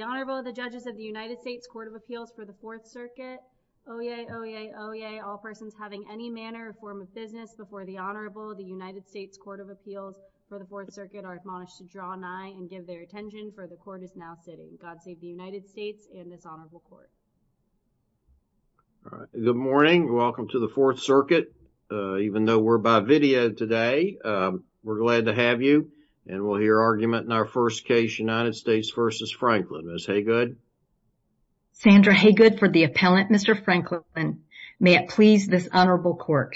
The Honorable, the Judges of the United States Court of Appeals for the Fourth Circuit. Oyez, oyez, oyez, all persons having any manner or form of business before the Honorable of the United States Court of Appeals for the Fourth Circuit are admonished to draw nigh and give their attention for the court is now sitting. God save the United States and this Honorable Court. All right. Good morning. Welcome to the Fourth Circuit. Even though we're by video today, we're glad to have you. And we'll hear argument in our first case, United States v. Franklin Ms. Haygood. Sandra Haygood for the appellant, Mr. Franklin. May it please this Honorable Court.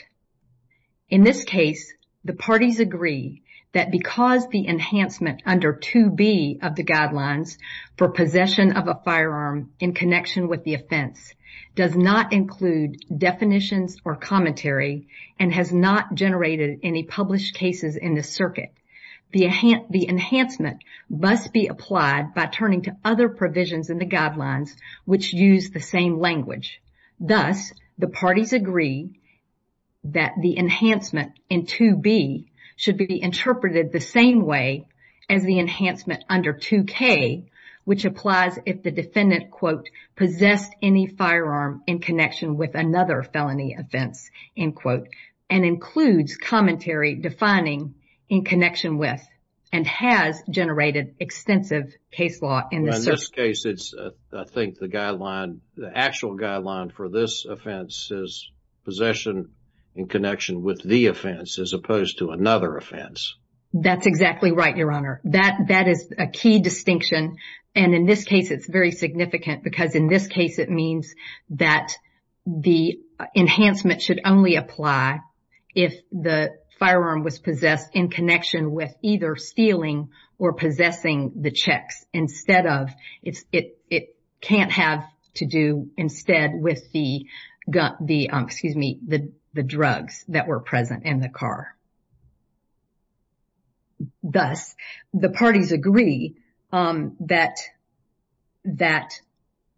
In this case, the parties agree that because the enhancement under 2B of the guidelines for possession of a firearm in connection with the offense does not include definitions or commentary and has not generated any published cases in the circuit. The enhancement must be applied by turning to other provisions in the guidelines which use the same language. Thus, the parties agree that the enhancement in 2B should be interpreted the same way as the enhancement under 2K, which applies if the defendant, quote, possessed any firearm in connection with another felony offense, end quote, and includes commentary defining in connection with and has generated extensive case law in this circuit. Well, in this case, it's, I think, the guideline, the actual guideline for this offense is possession in connection with the offense as opposed to another offense. That's exactly right, Your Honor. That is a key distinction. And in this case, it's very significant because in this case, it means that the enhancement should only apply if the firearm was possessed in connection with either stealing or possessing the checks instead of, it can't have to do instead with the, excuse me, the drugs that were present in the car. Thus, the parties agree that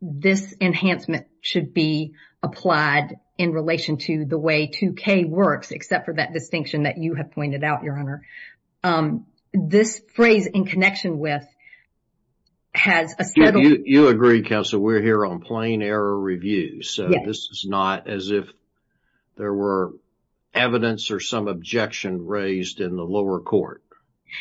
this enhancement should be applied in relation to the way 2K works, except for that distinction that you have pointed out, Your Honor. This phrase in connection with has a settled... You agree, Counselor, we're here on plain error review, so this is not as if there were evidence or some objection raised in the lower court.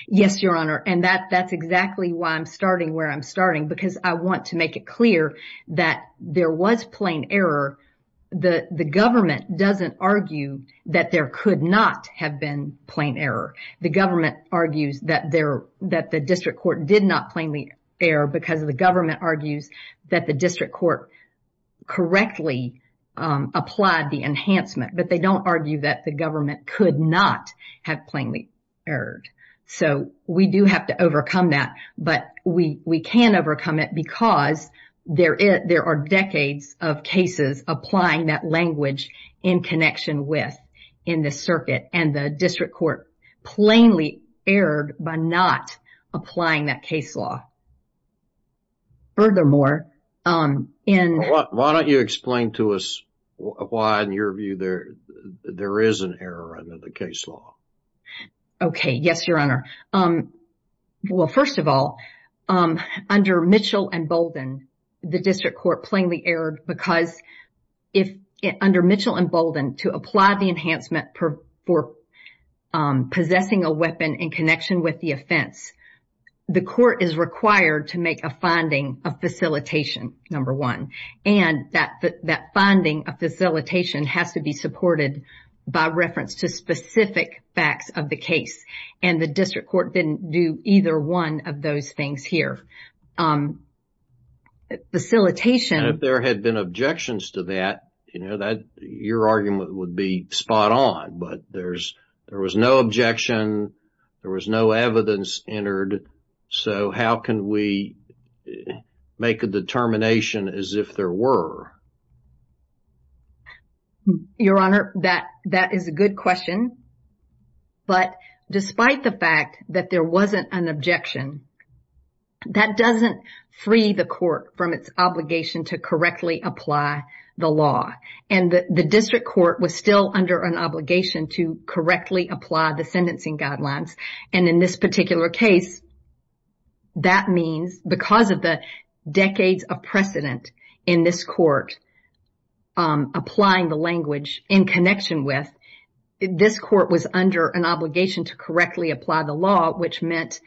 Yes, Your Honor, and that's exactly why I'm starting where I'm starting because I want to make it clear that there was plain error. The government doesn't argue that there could not have been plain error. The government argues that the district court did not plainly err because the government argues that the district court correctly applied the enhancement, but they don't argue that the government could not have plainly erred. So, we do have to overcome that, but we can overcome it because there are decades of cases applying that language in connection with in the circuit and the district court plainly erred by not applying that case law. Furthermore, in... Why don't you explain to us why, in your view, there is an error under the case law? Okay. Yes, Your Honor. Well, first of all, under Mitchell and Bolden, the district court plainly erred because under Mitchell and Bolden, to apply the enhancement for possessing a weapon in connection with the offense, the court is required to make a finding of facilitation, number one, and that finding of facilitation has to be supported by reference to specific facts of the case, and the district court didn't do either one of those things here. Facilitation... And if there had been objections to that, you know, your argument would be spot on, but there was no objection, there was no evidence entered, so how can we make a determination as if there were? Your Honor, that is a good question, but despite the fact that there wasn't an objection, that doesn't free the court from its obligation to correctly apply the law, and the district court was still under an obligation to correctly apply the sentencing guidelines, and in this particular case, that means, because of the decades of precedent in this court, that the district court um, applying the language in connection with, this court was under an obligation to correctly apply the law, which meant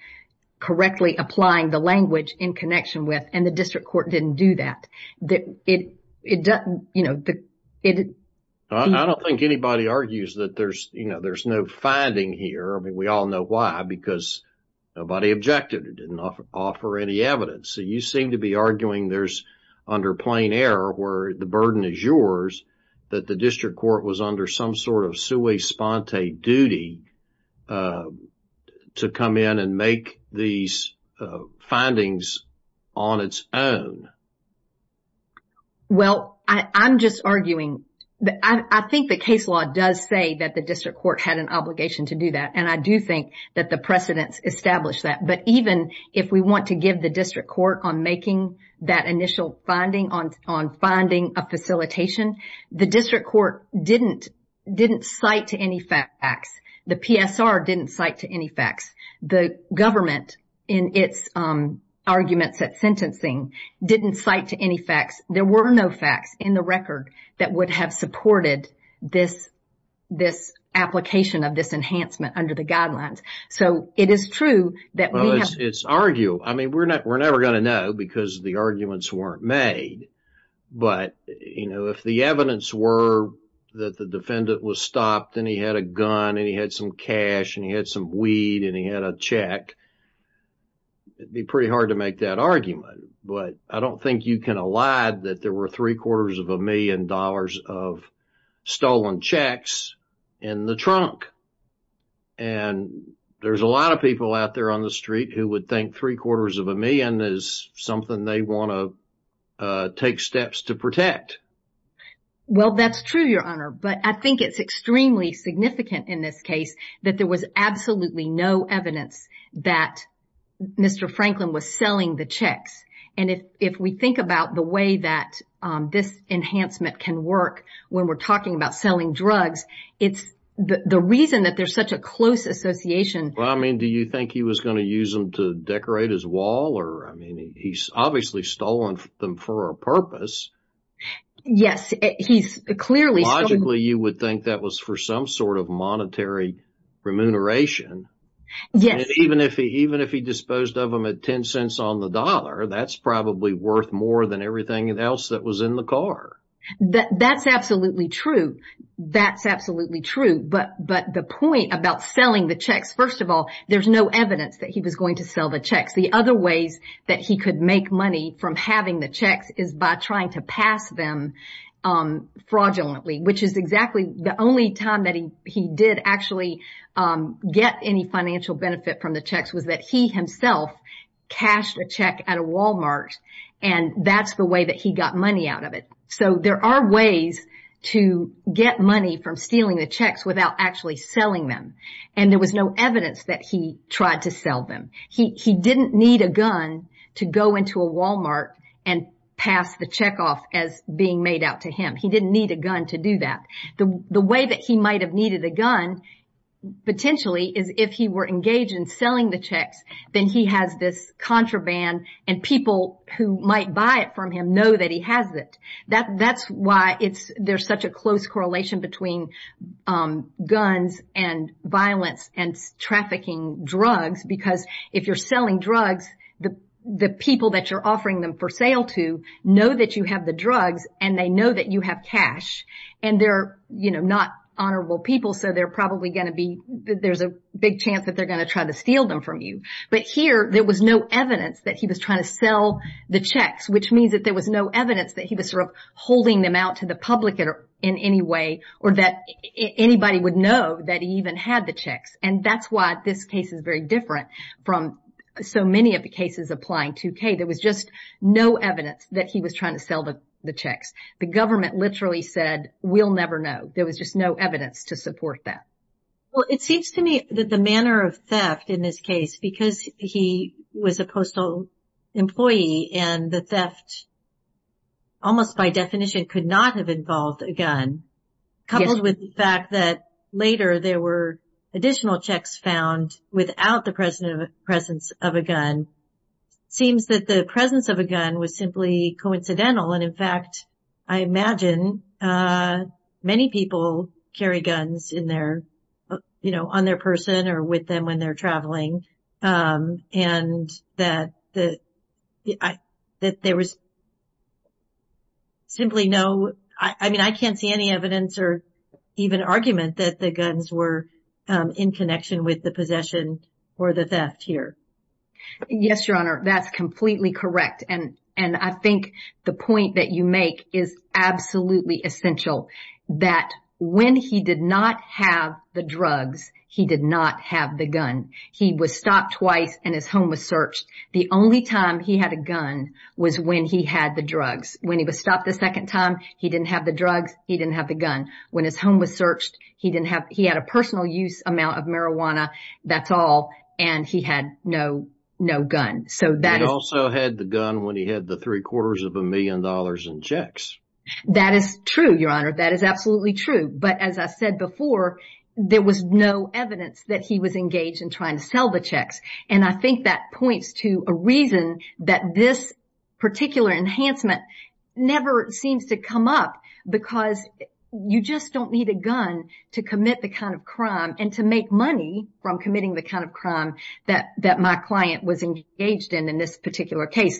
correctly applying the language in connection with, and the district court didn't do that. It doesn't, you know, it... I don't think anybody argues that there's, you know, there's no finding here. I mean, we all know why, because nobody objected, didn't offer any evidence, so you seem to be arguing there's, under plain error, where the burden is yours, that the district court was under some sort of sui sponte duty to come in and make these findings on its own. Well, I'm just arguing that I think the case law does say that the district court had an obligation to do that, and I do think that the precedents establish that, but even if we want to give the district court on making that initial finding, on finding a facilitation, the district court didn't cite any facts. The PSR didn't cite any facts. The government, in its arguments at sentencing, didn't cite any facts. There were no facts in the record that would have supported this application of this enhancement under the guidelines, so it is true that we have... Well, it's arguable. I mean, we're never going to know because the arguments weren't made, but, you know, if the evidence were that the defendant was stopped and he had a gun and he had some cash and he had some weed and he had a check, it'd be pretty hard to make that argument, but I don't think you can allie that there were three quarters of a million dollars of stolen checks in the trunk, and there's a lot of people out there on the street who would think three quarters of a million is something they want to take steps to protect. Well, that's true, Your Honor, but I think it's extremely significant in this case that there was absolutely no evidence that Mr. Franklin was selling the checks, and if we think about the way that this enhancement can work when we're talking about selling drugs, it's the reason that there's such a close association. Well, I mean, do you think he was going to use them to decorate his wall? I mean, he's obviously stolen them for a purpose. Yes, he's clearly... Logically, you would think that was for some sort of monetary remuneration, and even if he disposed of them at 10 cents on the dollar, that's probably worth more than everything else that was in the car. That's absolutely true. That's absolutely true, but the point about selling the checks, first of all, there's no evidence that he was going to sell the checks. The other ways that he could make money from having the checks is by trying to pass them fraudulently, which is exactly the only time that he did actually get any financial benefit from the checks was that he himself cashed a check at a Walmart, and that's the way that he got money out of it. So there are ways to get money from stealing the checks without actually selling them, and there was no evidence that he tried to sell them. He didn't need a gun to go into a Walmart and pass the check off as being made out to him. He didn't need a gun to do that. The way that he might have needed a gun potentially is if he were engaged in selling the checks, then he has this contraband, and people who might buy it from him know that he has it. That's why there's such a close correlation between guns and violence and trafficking drugs, because if you're selling drugs, the people that you're offering them for sale to know that you have the drugs, and they know that you have cash, and they're, you know, not honorable people, so they're probably going to be, there's a big chance that they're going to try to steal them from you, but here there was no evidence that he was trying to sell the checks, which means that there was no evidence that he was sort of holding them out to the public in any way, or that anybody would know that he even had the checks, and that's why this case is very different from so many of the cases applying to Kay. There was just no evidence that he was trying to sell the checks. The government literally said, we'll never know. There was just no evidence to support that. Well, it seems to me that the manner of theft in this case, because he was a postal employee, and the theft almost by definition could not have involved a gun, coupled with the fact that later there were additional checks found without the presence of a gun, seems that the presence of a gun was simply coincidental, and in fact, I imagine many people carry guns in their, you know, on their person or with them when they're traveling, and that there was simply no, I mean, I can't see any evidence or even argument that the guns were in connection with the possession or the theft here. Yes, Your Honor, that's completely correct, and I think the point that you make is absolutely essential, that when he did not have the drugs, he did not have the gun. He was stopped twice and his home was searched. The only time he had a gun was when he had the drugs. When he was stopped the second time, he didn't have the drugs, he didn't have the gun. When his home was searched, he didn't have, he had a personal use amount of marijuana, that's all, and he had no, no gun. So that also had the gun when he had the three quarters of a million dollars in checks. That is true, Your Honor, that is absolutely true, but as I said before, there was no evidence that he was engaged in trying to sell the checks, and I think that points to a reason that this particular enhancement never seems to come up, because you just don't need a gun to commit the kind of crime and to make money from committing the kind of crime that my client was engaged in, in this particular case.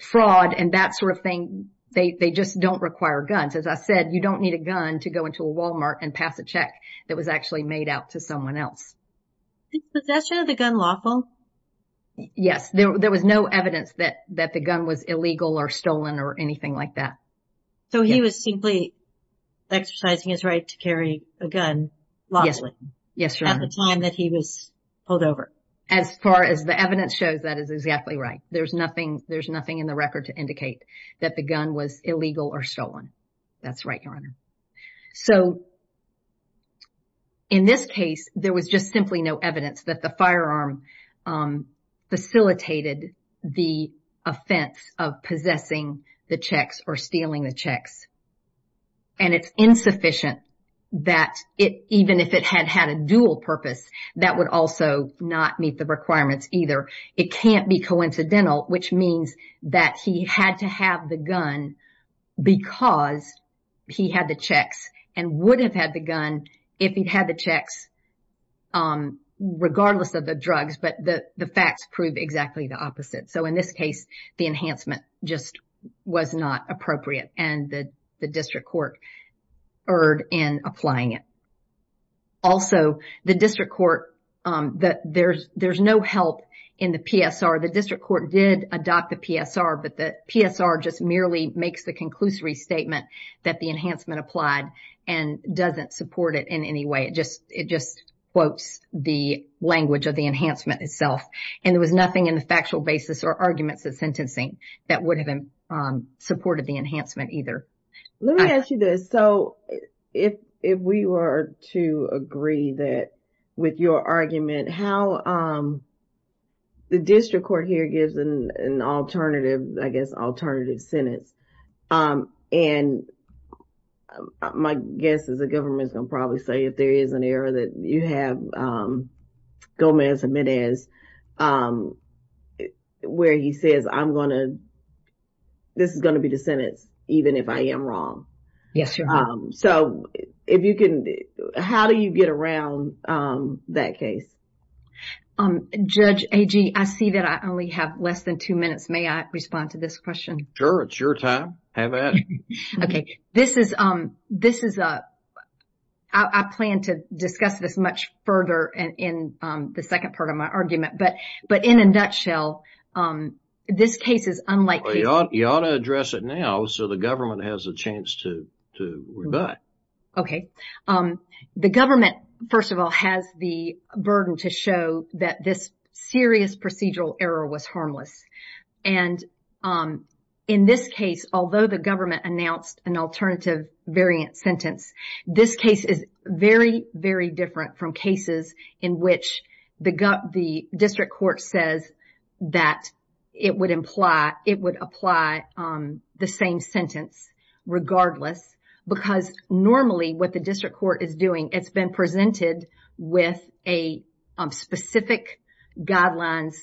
Fraud and that sort of gun. So as I said, you don't need a gun to go into a Walmart and pass a check that was actually made out to someone else. Did possession of the gun lawful? Yes, there was no evidence that, that the gun was illegal or stolen or anything like that. So he was simply exercising his right to carry a gun lawfully? Yes, Your Honor. At the time that he was pulled over? As far as the evidence shows, that is exactly right. There's nothing, there's nothing in the record to indicate that the gun was illegal or stolen. That's right, Your Honor. So in this case, there was just simply no evidence that the firearm facilitated the offense of possessing the checks or stealing the checks, and it's insufficient that it, even if it had had a dual purpose, that would also not meet the requirements either. It can't be coincidental, which means that he had to have the gun because he had the checks and would have had the gun if he'd had the checks regardless of the drugs, but the facts prove exactly the opposite. So in this case, the enhancement just was not appropriate and the district court erred in applying it. Also, the district court, there's no help in the PSR. The district court did adopt the PSR, but the PSR just merely makes the conclusory statement that the enhancement applied and doesn't support it in any way. It just quotes the language of the enhancement itself, and there was nothing in the factual basis or arguments of sentencing that would have supported the enhancement either. Let me ask you this. So if we were to agree that with your argument, how the district court here gives an alternative, I guess, alternative sentence, and my guess is the government's going to probably say if there is an error that you have Gomez and Medez where he says, I'm going to, this is going to be the sentence even if I am wrong. So if you can, how do you get around that case? Judge Agee, I see that I only have less than two minutes. May I respond to this question? Sure. It's your time. Have at it. Okay. This is, I plan to discuss this much further in the second part of my argument, but in a nutshell, this case is unlikely. You ought to address it now so the government has a chance to rebut. Okay. The government, first of all, has the burden to show that this serious procedural error was harmless. And in this case, although the government announced an alternative variant sentence, this case is very, very different from cases in which the district court says that it would imply, it would apply the same sentence regardless because normally what the district court is doing, it's been presented with a specific guidelines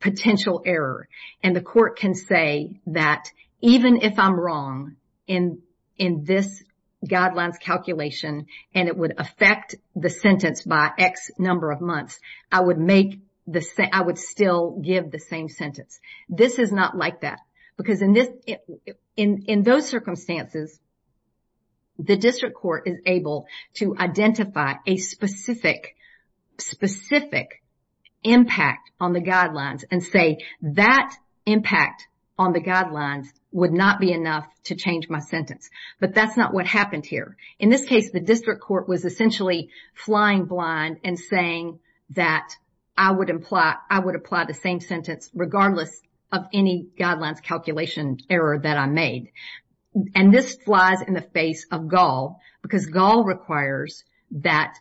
potential error. And the court can say that even if I'm wrong in this guidelines calculation and it would affect the sentence by X number of months, I would still give the same sentence. This is not like that because in those circumstances, the district court is able to identify a specific, specific impact on the guidelines and say that impact on the guidelines would not be enough to change my sentence. But that's not what happened here. In this case, the district court was essentially flying blind and saying that I would imply, I would apply the same sentence regardless of any guidelines calculation error that I made. And this flies in the face of Gaul because Gaul requires that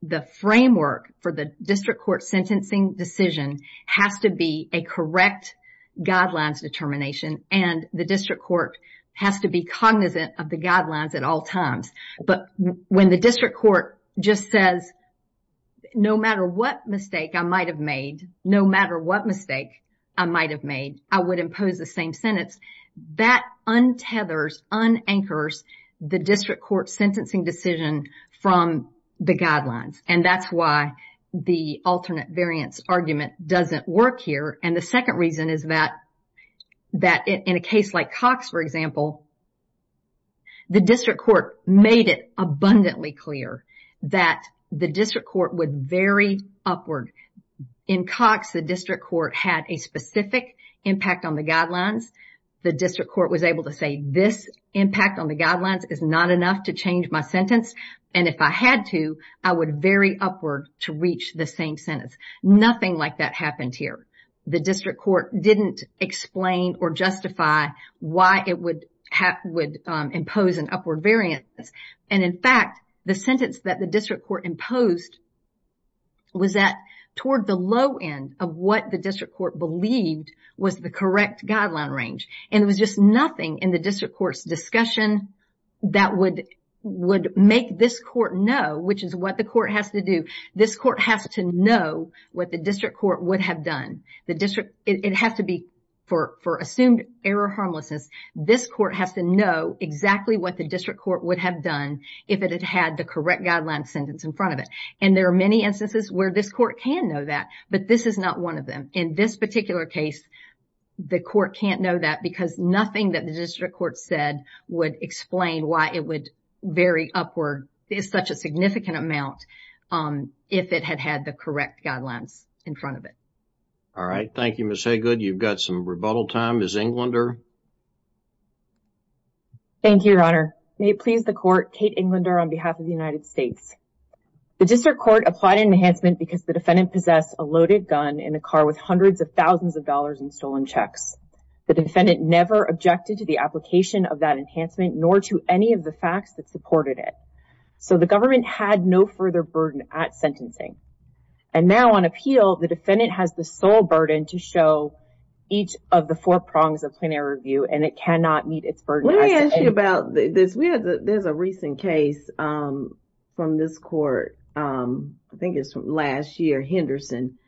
the framework for the district court sentencing decision has to be a correct guidelines determination and the district court has to be cognizant of the guidelines at all times. But when the district court just says, no matter what mistake I might have made, no matter what mistake I might have made, I would impose the same sentence, that untethers, unanchors the district court sentencing decision from the guidelines. And that's why the alternate variance argument doesn't work here. And the second reason is that in a case like Cox, for example, the district court made it abundantly clear that the district court would vary upward. In Cox, the district court had a impact on the guidelines. The district court was able to say this impact on the guidelines is not enough to change my sentence. And if I had to, I would vary upward to reach the same sentence. Nothing like that happened here. The district court didn't explain or justify why it would impose an upward variance. And in fact, the sentence that the district court imposed was that toward the low end of what the district court believed was the correct guideline range. And it was just nothing in the district court's discussion that would make this court know, which is what the court has to do, this court has to know what the district court would have done. The district, it has to be for assumed error harmlessness, this court has to know exactly what the district court would have done if it had had the correct guideline sentence in front of it. And there are many instances where this court can know that, but this is not one of them. In this particular case, the court can't know that because nothing that the district court said would explain why it would vary upward is such a significant amount. If it had had the correct guidelines in front of it. All right. Thank you, Ms. Hagood. You've got some rebuttal time. Ms. Englander. Thank you, Your Honor. May it please the court, Kate Englander on behalf of the United States. The district court applied an enhancement because the defendant possessed a loaded gun in a car with hundreds of thousands of dollars in stolen checks. The defendant never objected to the application of that enhancement, nor to any of the facts that supported it. So the government had no further burden at sentencing. And now on appeal, the defendant has the sole burden to show each of the four prongs of plenary review, and it cannot meet its burden. Let me ask you about this. There's a recent case from this court, I think it's from last year, Henderson,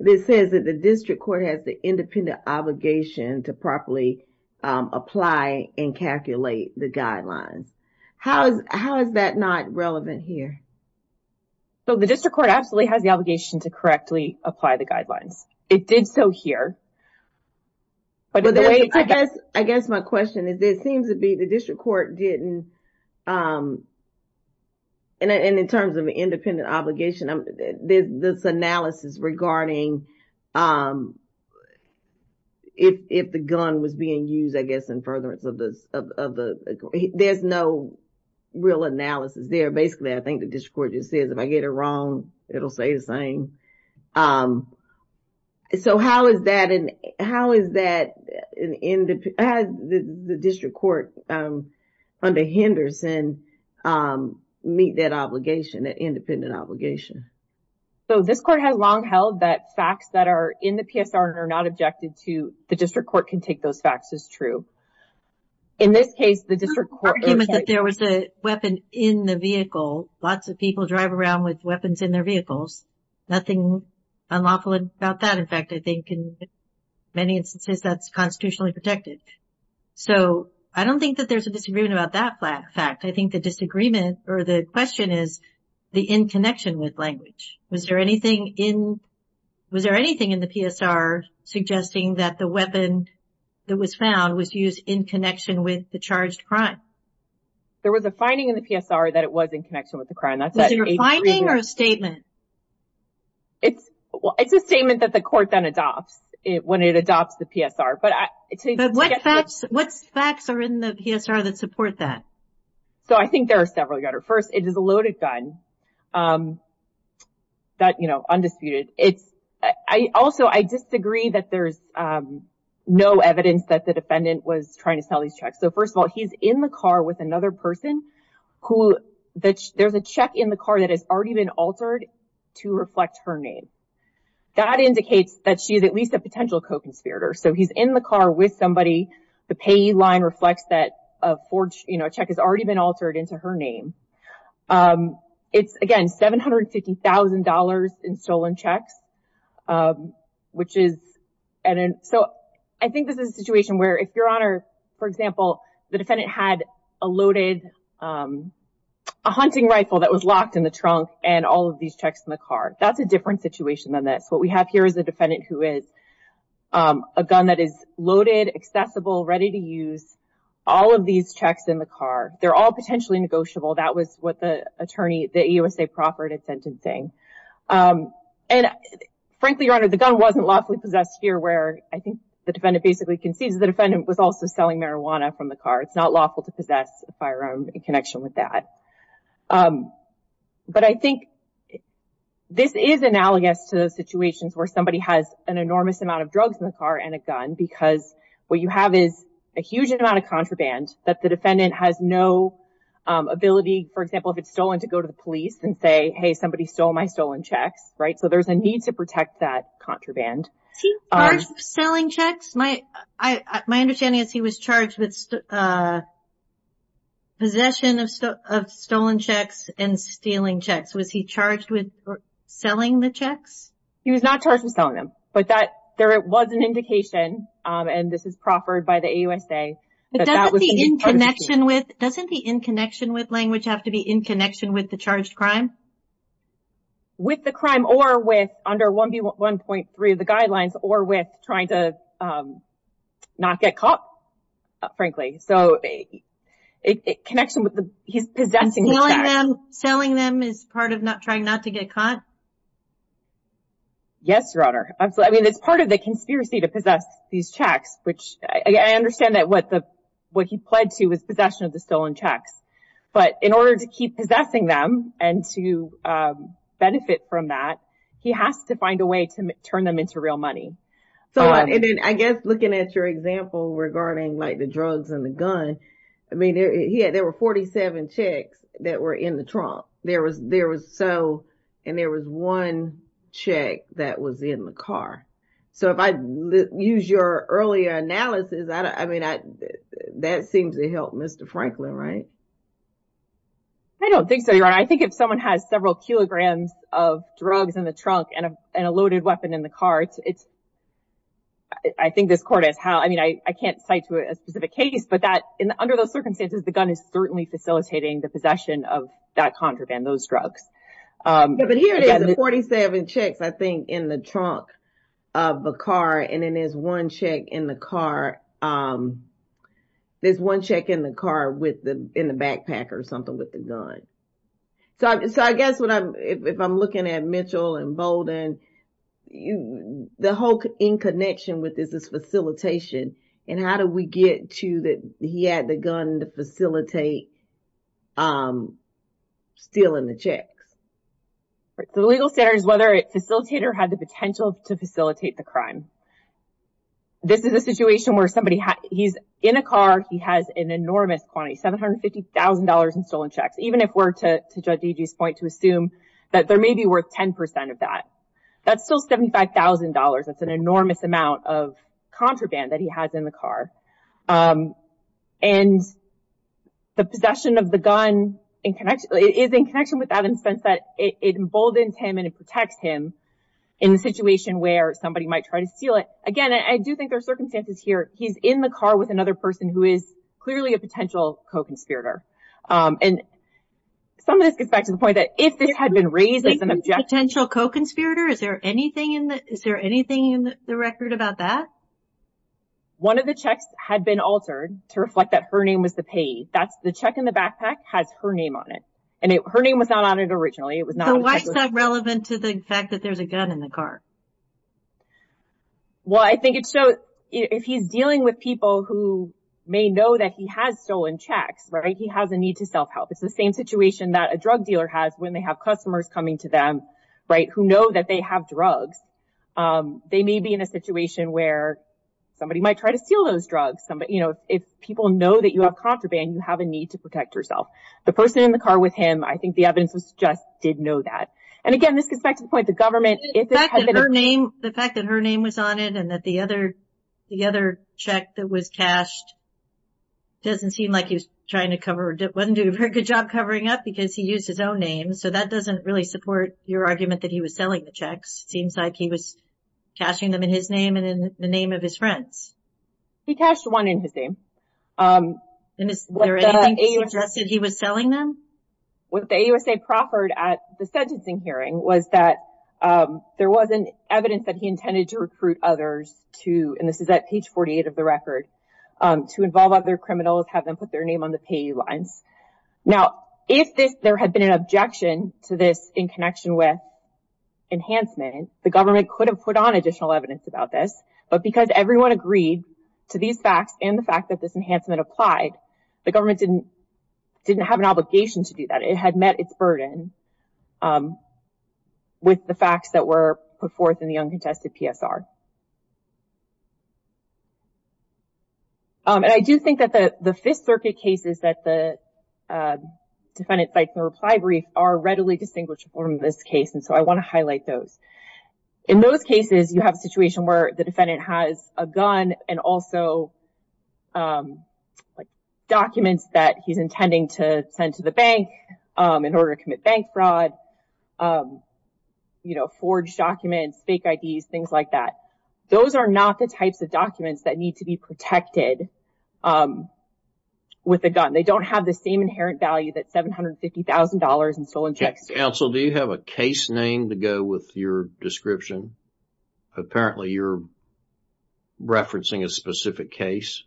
that says that the district court has the independent obligation to properly apply and calculate the guidelines. How is that not relevant here? So the district court absolutely has the obligation to correctly apply the guidelines. It did so here. I guess my question is, it seems to be the district court didn't, and in terms of independent obligation, this analysis regarding if the gun was being used, I guess, in furtherance of this, there's no real analysis there. Basically, I think the district court just says if I get it wrong, it'll say the same. So how is that the district court under Henderson meet that obligation, that independent obligation? So this court has long held that facts that are in the PSR and are not objected to, the district court can take those facts as true. In this case, the district court- weapon in the vehicle, lots of people drive around with weapons in their vehicles, nothing unlawful about that. In fact, I think in many instances, that's constitutionally protected. So I don't think that there's a disagreement about that fact. I think the disagreement or the question is the in connection with language. Was there anything in the PSR suggesting that the weapon that was found was used in connection with the charged crime? There was a finding in the PSR that it was in connection with the crime. Is it a finding or a statement? It's a statement that the court then adopts when it adopts the PSR. What facts are in the PSR that support that? So I think there are several, Your Honor. First, it is a loaded gun, that, you know, undisputed. Also, I disagree that there's no evidence that the defendant was trying to sell these checks. So first of all, he's in the car with another person who- there's a check in the car that has already been altered to reflect her name. That indicates that she's at least a potential co-conspirator. So he's in the car with somebody, the payee line reflects that a check has already been altered into her name. It's, again, $750,000 in stolen checks, um, which is- and so I think this is a situation where, if Your Honor, for example, the defendant had a loaded, um, a hunting rifle that was locked in the trunk and all of these checks in the car. That's a different situation than this. What we have here is a defendant who is um, a gun that is loaded, accessible, ready to use, all of these checks in the car. They're all potentially negotiable. That was what the attorney, the EOSA, proffered at sentencing. Um, and frankly, Your Honor, the gun wasn't lawfully possessed here where I think the defendant basically concedes the defendant was also selling marijuana from the car. It's not lawful to possess a firearm in connection with that. Um, but I think this is analogous to situations where somebody has an enormous amount of drugs in the car and a gun because what you have is a huge amount of contraband that the defendant has no, um, ability, for example, if it's stolen, to go to the police and say, hey, somebody stole my stolen checks, right? So there's a need to protect that contraband. Is he charged with selling checks? My, I, my understanding is he was charged with, uh, possession of, of stolen checks and stealing checks. Was he charged with selling the checks? He was not charged with selling them, but that, there was an indication, um, and this is proffered by the EOSA that that was part of the scheme. But doesn't the in connection with, doesn't the in connection with language have to be in connection with the charged crime? With the crime or with under 1B1.3 of the guidelines or with trying to, um, not get caught, frankly. So a connection with the, he's possessing the checks. Selling them is part of not trying not to get caught? Yes, Your Honor. I mean, it's part of the conspiracy to possess these checks, which I understand that what the, what he pled to is possession of the stolen checks, but in order to keep possessing them and to, um, benefit from that, he has to find a way to turn them into real money. So I guess looking at your example regarding like the drugs and the gun, I mean, there, he had, there were 47 checks that were in the trunk. There was, there was so, and there was one check that was in the car. So if I use your earlier analysis, I don't, I mean, I, that seems to help Mr. Franklin, right? I don't think so, Your Honor. I think if someone has several kilograms of drugs in the trunk and a, and a loaded weapon in the car, it's, it's, I think this court is how, I mean, I, I can't cite to a specific case, but that in the, under those circumstances, the gun is certainly facilitating the possession of that contraband, those drugs. Yeah, but here it is, 47 checks, I think in the trunk of a car. And then there's one check in the car. Um, there's one check in the car with the, in the backpack or something with the gun. So, so I guess what I'm, if I'm looking at Mitchell and Bolden, you, the whole in connection with this is facilitation and how do we get to that? He had the gun to facilitate, um, stealing the checks. The legal standards, whether it facilitated or had the potential to facilitate the crime. This is a situation where somebody has, he's in a car, he has an enormous quantity, $750,000 in stolen checks. Even if we're to, to judge DG's point to assume that there may be worth 10% of that, that's still $75,000. That's an enormous amount of contraband that he has in the car. Um, and the possession of the gun in connection, is in connection with that in the sense that it emboldens him and it protects him in the situation where somebody might try to steal it. Again, I do think there are circumstances here. He's in the car with another person who is clearly a potential co-conspirator. Um, and some of this gets back to the point that if this had been raised as an objection. Potential co-conspirator? Is there anything in the, is there anything in the record about that? One of the checks had been altered to reflect that her name was the payee. That's, the check in the backpack has her name on it. And it, her name was not on it originally. It was not. So why is that relevant to the fact that there's a gun in the car? Well, I think it's so, if he's dealing with people who may know that he has stolen checks, right? He has a need to self-help. It's the same situation that a drug dealer has when they have customers coming to them, right? Who know that they have drugs. Um, they may be in a situation where somebody might try to steal those drugs. Somebody, you know, if people know that you have contraband, you have a need to protect yourself. The person in the car with him, I think the evidence was just, did know that. And again, this gets back to the point, the government, the fact that her name was on it and that the other, the other check that was cashed doesn't seem like he was trying to cover, wasn't doing a very good job covering up because he used his own name. So that doesn't really support your argument that he was selling the checks. Seems like he was cashing them in his name and in the name of his friends. He cashed one in his name. Um. And is there anything that suggested he was selling them? What the AUSA proffered at the sentencing hearing was that, um, there wasn't evidence that he intended to recruit others to, and this is at page 48 of the record, um, to involve other criminals, have them put their name on the pay lines. Now, if this, there had been an objection to this in connection with enhancement, the government could have put on additional evidence about this, but because everyone agreed to these facts and the fact that this enhancement applied, the government didn't, didn't have an obligation to do that. It had met its burden, um, with the facts that were put forth in the uncontested PSR. Um, and I do think that the, the Fifth Circuit cases that the, uh, defendant filed a reply brief are readily distinguishable in this case, and so I want to highlight those. In those cases, you have a situation where the defendant has a gun and also, um, like, documents that he's intending to send to the bank, um, in order to commit bank fraud, um, you know, forged documents, fake IDs, things like that. Those are not the types of documents that need to be protected, um, with a gun. They don't have the same inherent value that $750,000 in stolen checks do. Counsel, do you have a case name to go with your description? Apparently, you're referencing a specific case.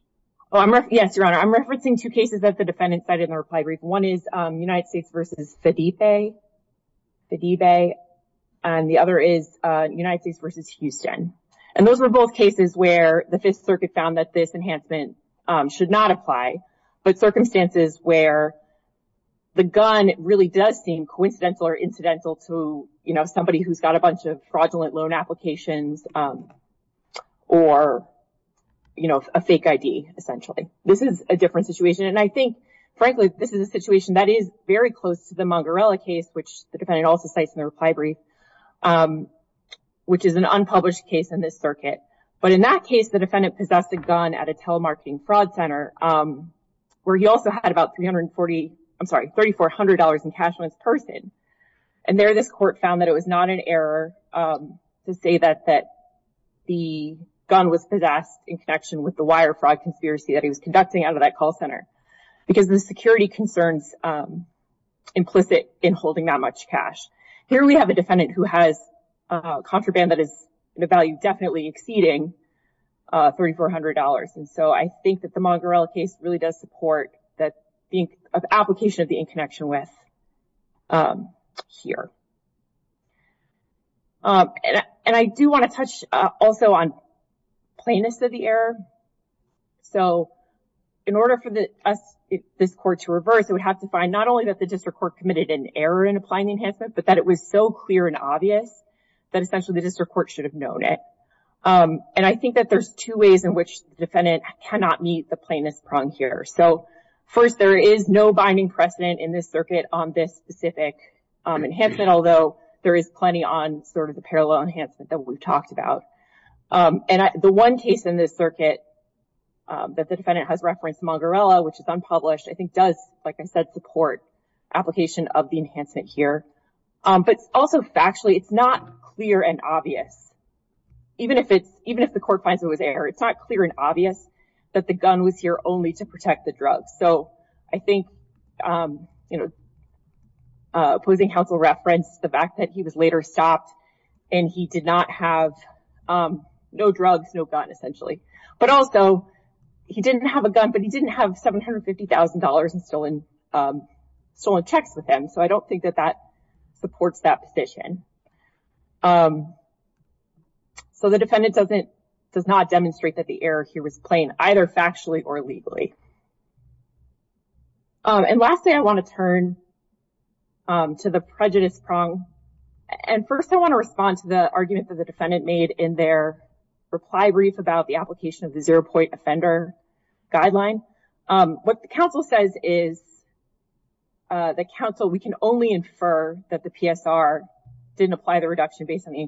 Well, I'm, yes, Your Honor. I'm referencing two cases that the defendant cited in the reply brief. One is, um, United States v. Fedife, and the other is, uh, United States v. Houston. And those were both cases where the Fifth Circuit found that this enhancement, um, apply, but circumstances where the gun really does seem coincidental or incidental to, you know, somebody who's got a bunch of fraudulent loan applications, um, or, you know, a fake ID, essentially. This is a different situation, and I think, frankly, this is a situation that is very close to the Mongarella case, which the defendant also cites in the reply brief, um, which is an unpublished case in the Fifth Circuit. But in that case, the defendant possessed a gun at a telemarketing fraud center, um, where he also had about 340, I'm sorry, $3,400 in cash on his purse in. And there, this court found that it was not an error, um, to say that, that the gun was possessed in connection with the wire fraud conspiracy that he was conducting out of that call center, because the security concerns, um, implicit in holding that much cash. Here, we have a defendant who has, uh, contraband that is in a value definitely exceeding, uh, $3,400. And so, I think that the Mongarella case really does support that being an application of the in connection with, um, here. Um, and I, and I do want to touch, uh, also on plainness of the error. So, in order for the, us, this court to reverse, it would have to find not only that the district court committed an error in applying the enhancement, but that it was so clear and obvious that essentially the district court should have known it. Um, and I think that there's two ways in which the defendant cannot meet the plainness prong here. So, first, there is no binding precedent in this circuit on this specific, um, enhancement, although there is plenty on sort of the parallel enhancement that we've talked about. Um, and I, the one case in this circuit, um, that the defendant has referenced Mongarella, which is unpublished, I think does, like I said, support application of the enhancement here. Um, but also factually, it's not clear and obvious. Even if it's, even if the court finds it was error, it's not clear and obvious that the gun was here only to protect the drug. So, I think, um, you know, uh, opposing counsel referenced the fact that he was later stopped and he did not have, um, no drugs, no gun, essentially. But also, he didn't have a gun, but he didn't have $750,000 in stolen, um, stolen checks with him. So, I don't think that that supports that position. Um, so, the defendant doesn't, does not demonstrate that the error here was plain, either factually or legally. And lastly, I want to turn, um, to the prejudice prong. And first, I want to respond to the argument that the defendant made in their reply brief about the application of the zero-point offender guideline. Um, what the counsel says is, uh, the counsel, we can only infer that the PSR didn't apply the reduction based on the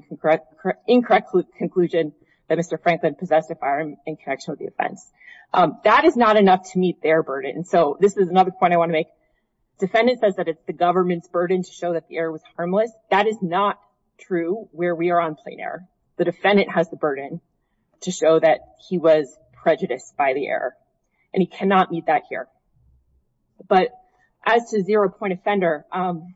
incorrect conclusion that Mr. Franklin possessed a firearm in connection with the offense. Um, that is not enough to meet their burden. So, this is another point I want to make. Defendant says that it's the government's burden to show that the error was harmless. That is not true where we are on plain error. The defendant has the burden to show that he was prejudiced by the error. And he cannot meet that here. But as to zero-point offender, um,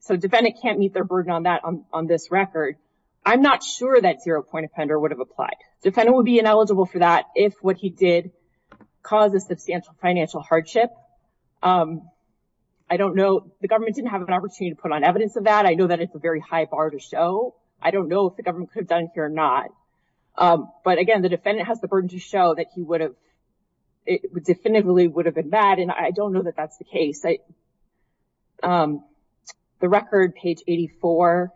so, defendant can't meet their burden on that, on, on this record. I'm not sure that zero-point offender would have applied. Defendant would be ineligible for that if what he did caused a substantial financial hardship. Um, I don't know, the government didn't have an opportunity to put on evidence of that. I know that it's a very high bar to show. I don't know if the government could have done it here or not. Um, but again, the defendant has the burden to show that he would have, it definitively would have been bad. And I don't know that that's the case. I, um, the record, page 84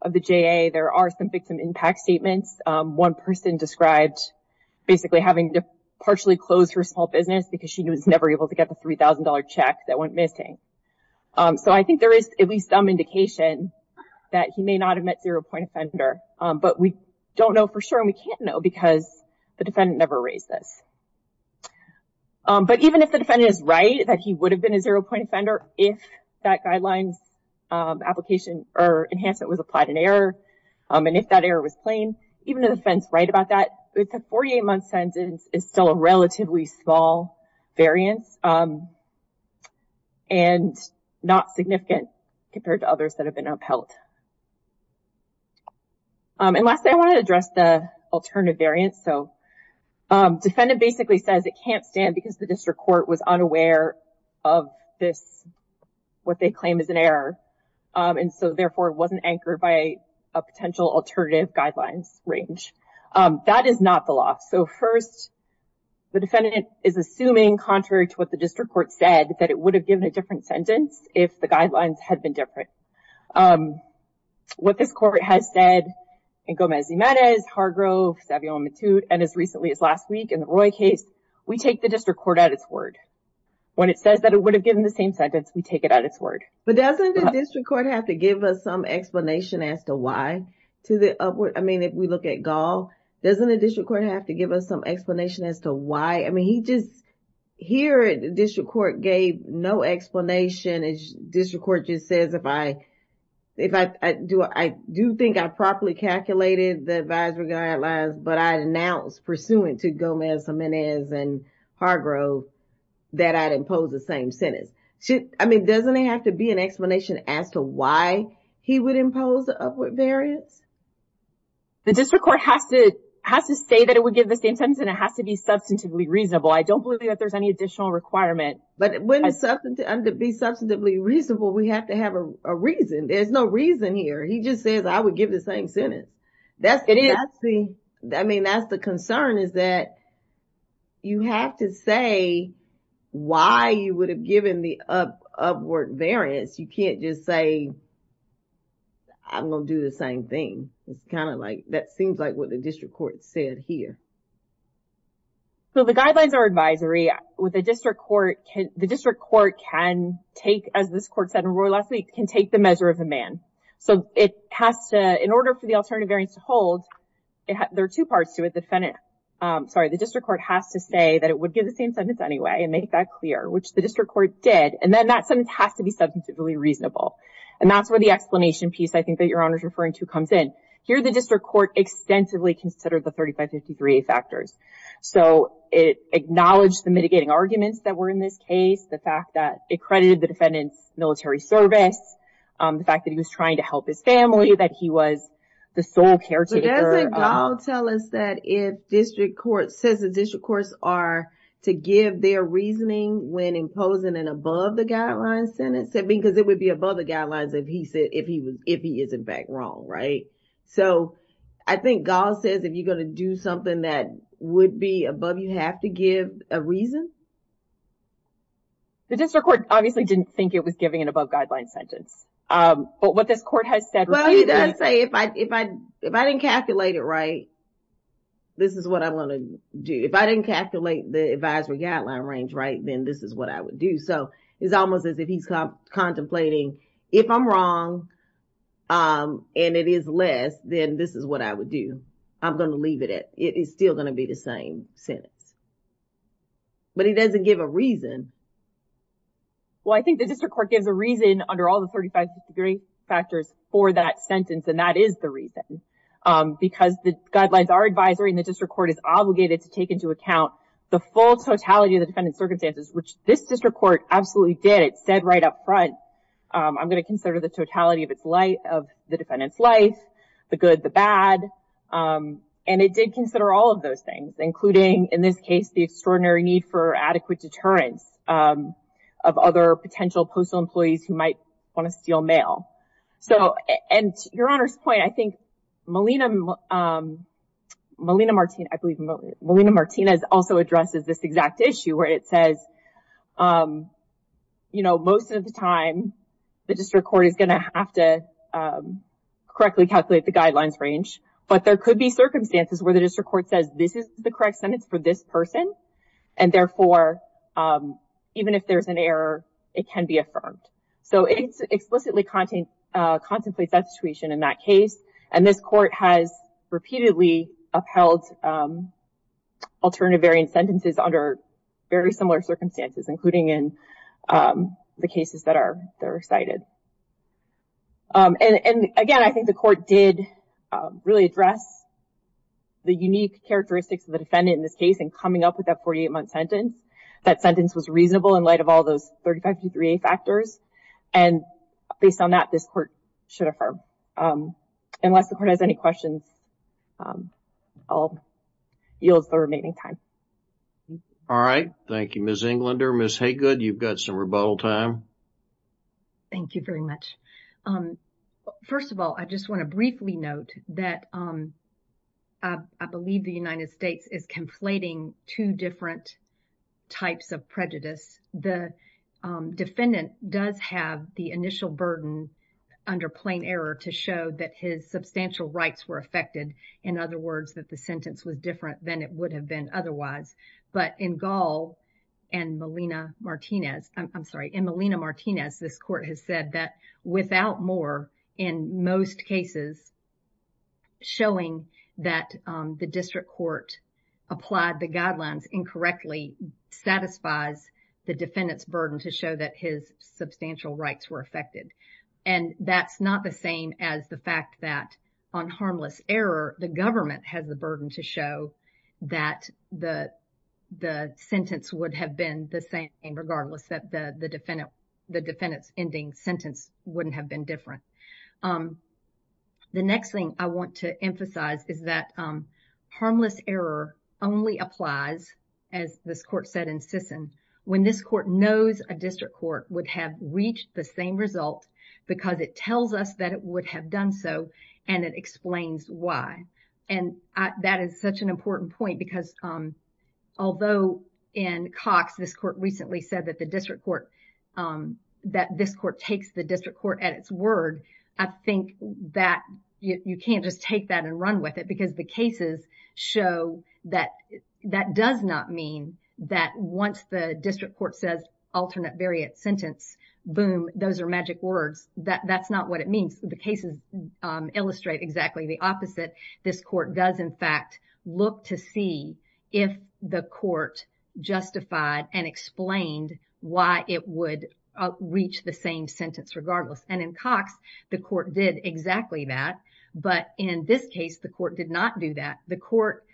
of the JA, there are some victim impact statements. Um, one person described basically having to partially close her small business because she was never able to get the $3,000 check that went missing. Um, so I think there is at least some indication that he may not have met zero-point offender. Um, but we don't know for sure and we can't know because the defendant never raised this. Um, but even if the defendant is right that he would have been a zero-point offender if that guidelines, um, application or enhancement was applied in error. Um, and if that error was plain, even if the defense is right about that, the 48-month sentence is still a relatively small variance, um, and not significant compared to others that have been upheld. Um, and lastly, I want to address the alternative variance. So, um, defendant basically says it can't stand because the district court was unaware of this, what they claim is an error. Um, and so therefore it wasn't anchored by a potential alternative guidelines range. Um, that is not the law. So first, the defendant is assuming contrary to what the district court said that it would have given a different sentence if the guidelines had been different. Um, what this court has said in Gomez-Zimadez, Hargrove, Savio and Matute, and as recently as last week in the Roy case, we take the district court at its word. When it says that it would have given the same sentence, we take it at its word. But doesn't the district court have to give us some explanation as to why to the upward? I mean, if we look at Gall, doesn't the district court have to give us some explanation as to why? I mean, he just, here the district court gave no explanation. District court just says if I, if I do, I do think I properly calculated the advisory guidelines, but I announced pursuant to Gomez-Zimadez and Hargrove that I'd impose the same sentence. I mean, doesn't it have to be an explanation as to why he would impose the upward variance? The district court has to, has to say that it would give the same sentence and it has to be substantively reasonable. I don't believe that there's any additional requirement. But wouldn't it be substantively reasonable? We have to have a reason. There's no reason here. He just says I would give the same sentence. That's the, I mean, that's the concern is that you have to say why you would have given the upward variance. You can't just say, I'm going to do the same thing. It's kind of like, that seems like what the district court said here. So, the guidelines are advisory with the district court. The district court can take, as this court said in Royal Association, can take the measure of a man. So, it has to, in order for the alternative variance to hold, there are two parts to it. The defendant, sorry, the district court has to say that it would give the same sentence anyway and make that clear, which the district court did. And then that sentence has to be substantively reasonable. And that's where the explanation piece I think that Your Honor's referring to comes in. Here, the district court extensively considered the 3553A factors. So, it acknowledged the mitigating arguments that were in this case, the fact that it credited the fact that he was trying to help his family, that he was the sole caretaker. But doesn't Gall tell us that if district court says the district courts are to give their reasoning when imposing an above the guidelines sentence? I mean, because it would be above the guidelines if he is in fact wrong, right? So, I think Gall says if you're going to do something that would be above, you have to give a reason? The district court obviously didn't think it was giving an above guidelines sentence. But what this court has said- Well, he does say if I didn't calculate it right, this is what I want to do. If I didn't calculate the advisory guideline range right, then this is what I would do. So, it's almost as if he's contemplating if I'm wrong and it is less, then this is what I would do. I'm going to leave it. It is still going to be the same sentence. But he doesn't give a reason. Well, I think the district court gives a reason under all the 35 degree factors for that sentence, and that is the reason. Because the guidelines are advisory and the district court is obligated to take into account the full totality of the defendant's circumstances, which this district court absolutely did. It said right up front, I'm going to consider the totality of the defendant's life, the good, the bad. And it did consider all of those things, including in this case, the extraordinary need for adequate deterrence of other potential postal employees who might want to steal mail. So, and your Honor's point, I think Melina Martinez also addresses this exact issue where it says, you know, most of the time, the district court is going to have to correctly calculate the guidelines range. But there could be circumstances where the district court says this is the correct sentence for this person, and therefore, even if there's an error, it can be affirmed. So, it explicitly contemplates that situation in that case, and this court has repeatedly upheld alternative variant sentences under very similar circumstances, including in the cases that are cited. And again, I think the court did really address the unique characteristics of the defendant in this case, and coming up with that 48-month sentence, that sentence was reasonable in light of all those 35 to 3 factors. And based on that, this court should affirm. Unless the court has any questions, I'll yield the remaining time. All right. Thank you, Ms. Englander. Ms. Haygood, you've got some rebuttal time. Thank you very much. First of all, I just want to briefly note that I believe the United States is conflating two different types of prejudice. The defendant does have the initial burden under plain error to show that his substantial rights were affected. In other words, that the sentence was different than it would have been otherwise. But in Gall and Molina-Martinez, I'm sorry, in Molina-Martinez, this court has said that without more, in most cases, showing that the district court applied the guidelines incorrectly satisfies the defendant's burden to show that his substantial rights were affected. And that's not the same as the fact that on harmless error, the government has the burden to show that the sentence would have been the same, regardless that the defendant's ending sentence wouldn't have been different. The next thing I want to emphasize is that harmless error only applies, as this court said in Sisson, when this court knows a district court would have reached the same result because it tells us that it would have done so and it explains why. And that is such an important point because although in Cox, this court recently said that the district court, that this court takes the district court at its word, I think that you can't just take that and run with it because the cases show that that does not mean that once the district court says alternate variant sentence, boom, those are magic words. That's not what it does. It's exactly the opposite. This court does in fact look to see if the court justified and explained why it would reach the same sentence regardless. And in Cox, the court did exactly that. But in this case, the court did not do that. The court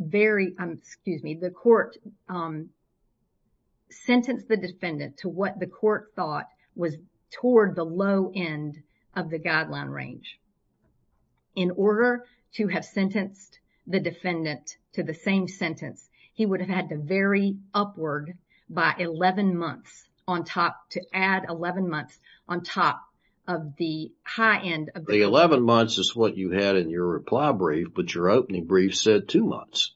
very, excuse me, the court sentenced the defendant to what the court thought was toward the low end of the guideline range. In order to have sentenced the defendant to the same sentence, he would have had to vary upward by 11 months on top, to add 11 months on top of the high end. The 11 months is what you had in your reply brief, but your opening brief said two months.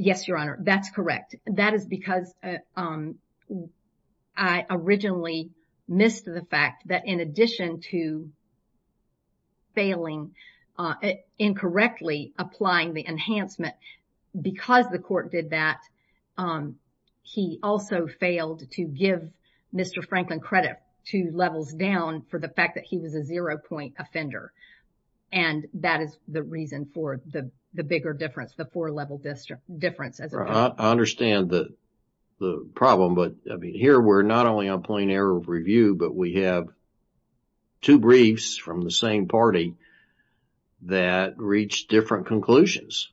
Yes, Your Honor, that's correct. That is because I originally missed the fact that in addition to failing, incorrectly applying the enhancement, because the court did that, he also failed to give Mr. Franklin credit two levels down for the fact that he was a zero point offender. And that is the reason for the bigger difference, the four level difference. I understand the problem, but I mean, here we're not only on plain error of review, but we have two briefs from the same party that reach different conclusions.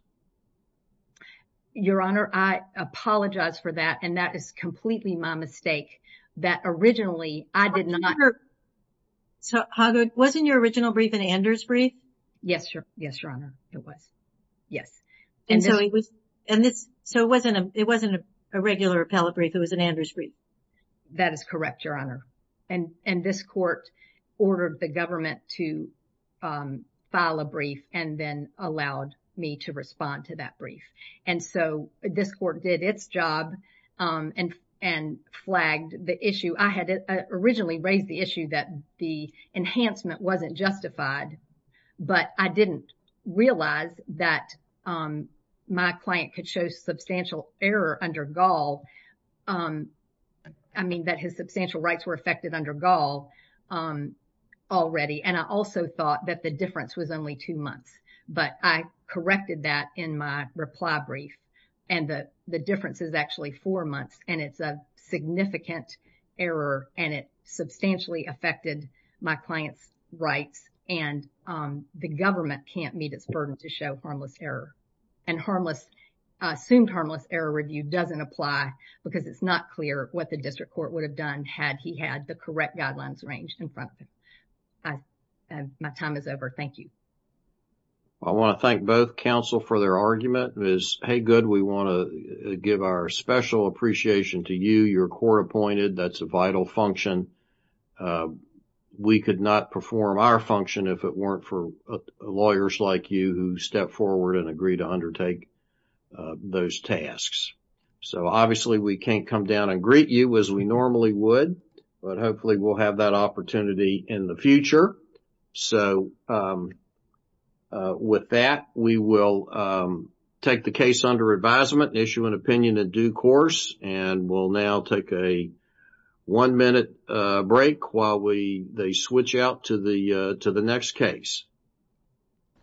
Your Honor, I apologize for that. And that is completely my mistake that originally I did not. So, Hoggard, wasn't your original brief an Anders brief? Yes, Your Honor, it was. Yes. And so, it wasn't a regular appellate brief, it was an Anders brief. That is correct, Your Honor. And this court ordered the government to file a brief and then allowed me to respond to that brief. And so, this court did its job and flagged the issue. I had originally raised the issue that the enhancement wasn't justified, but I didn't realize that my client could show substantial error under Gaul. I mean, that his substantial rights were affected under Gaul already. And I also thought that the difference was only two months, but I corrected that in my reply brief. And the difference is actually four months, and it's a significant error, and it substantially affected my client's rights. And the government can't meet its burden to show harmless error. And assumed harmless error review doesn't apply because it's not clear what the district court would have done had he had the correct guidelines arranged in front of him. My time is over. Thank you. I want to thank both counsel for their argument. It was, hey, good, we want to give our special appreciation to you. You're court appointed. That's a vital function. We could not perform our function if it weren't for lawyers like you who step forward and agree to undertake those tasks. So, obviously, we can't come down and greet you as we normally would, but hopefully we'll have that opportunity in the future. So, with that, we will take the case under advisement, issue an opinion in due course, and we'll now take a one-minute break while they switch out to the next case.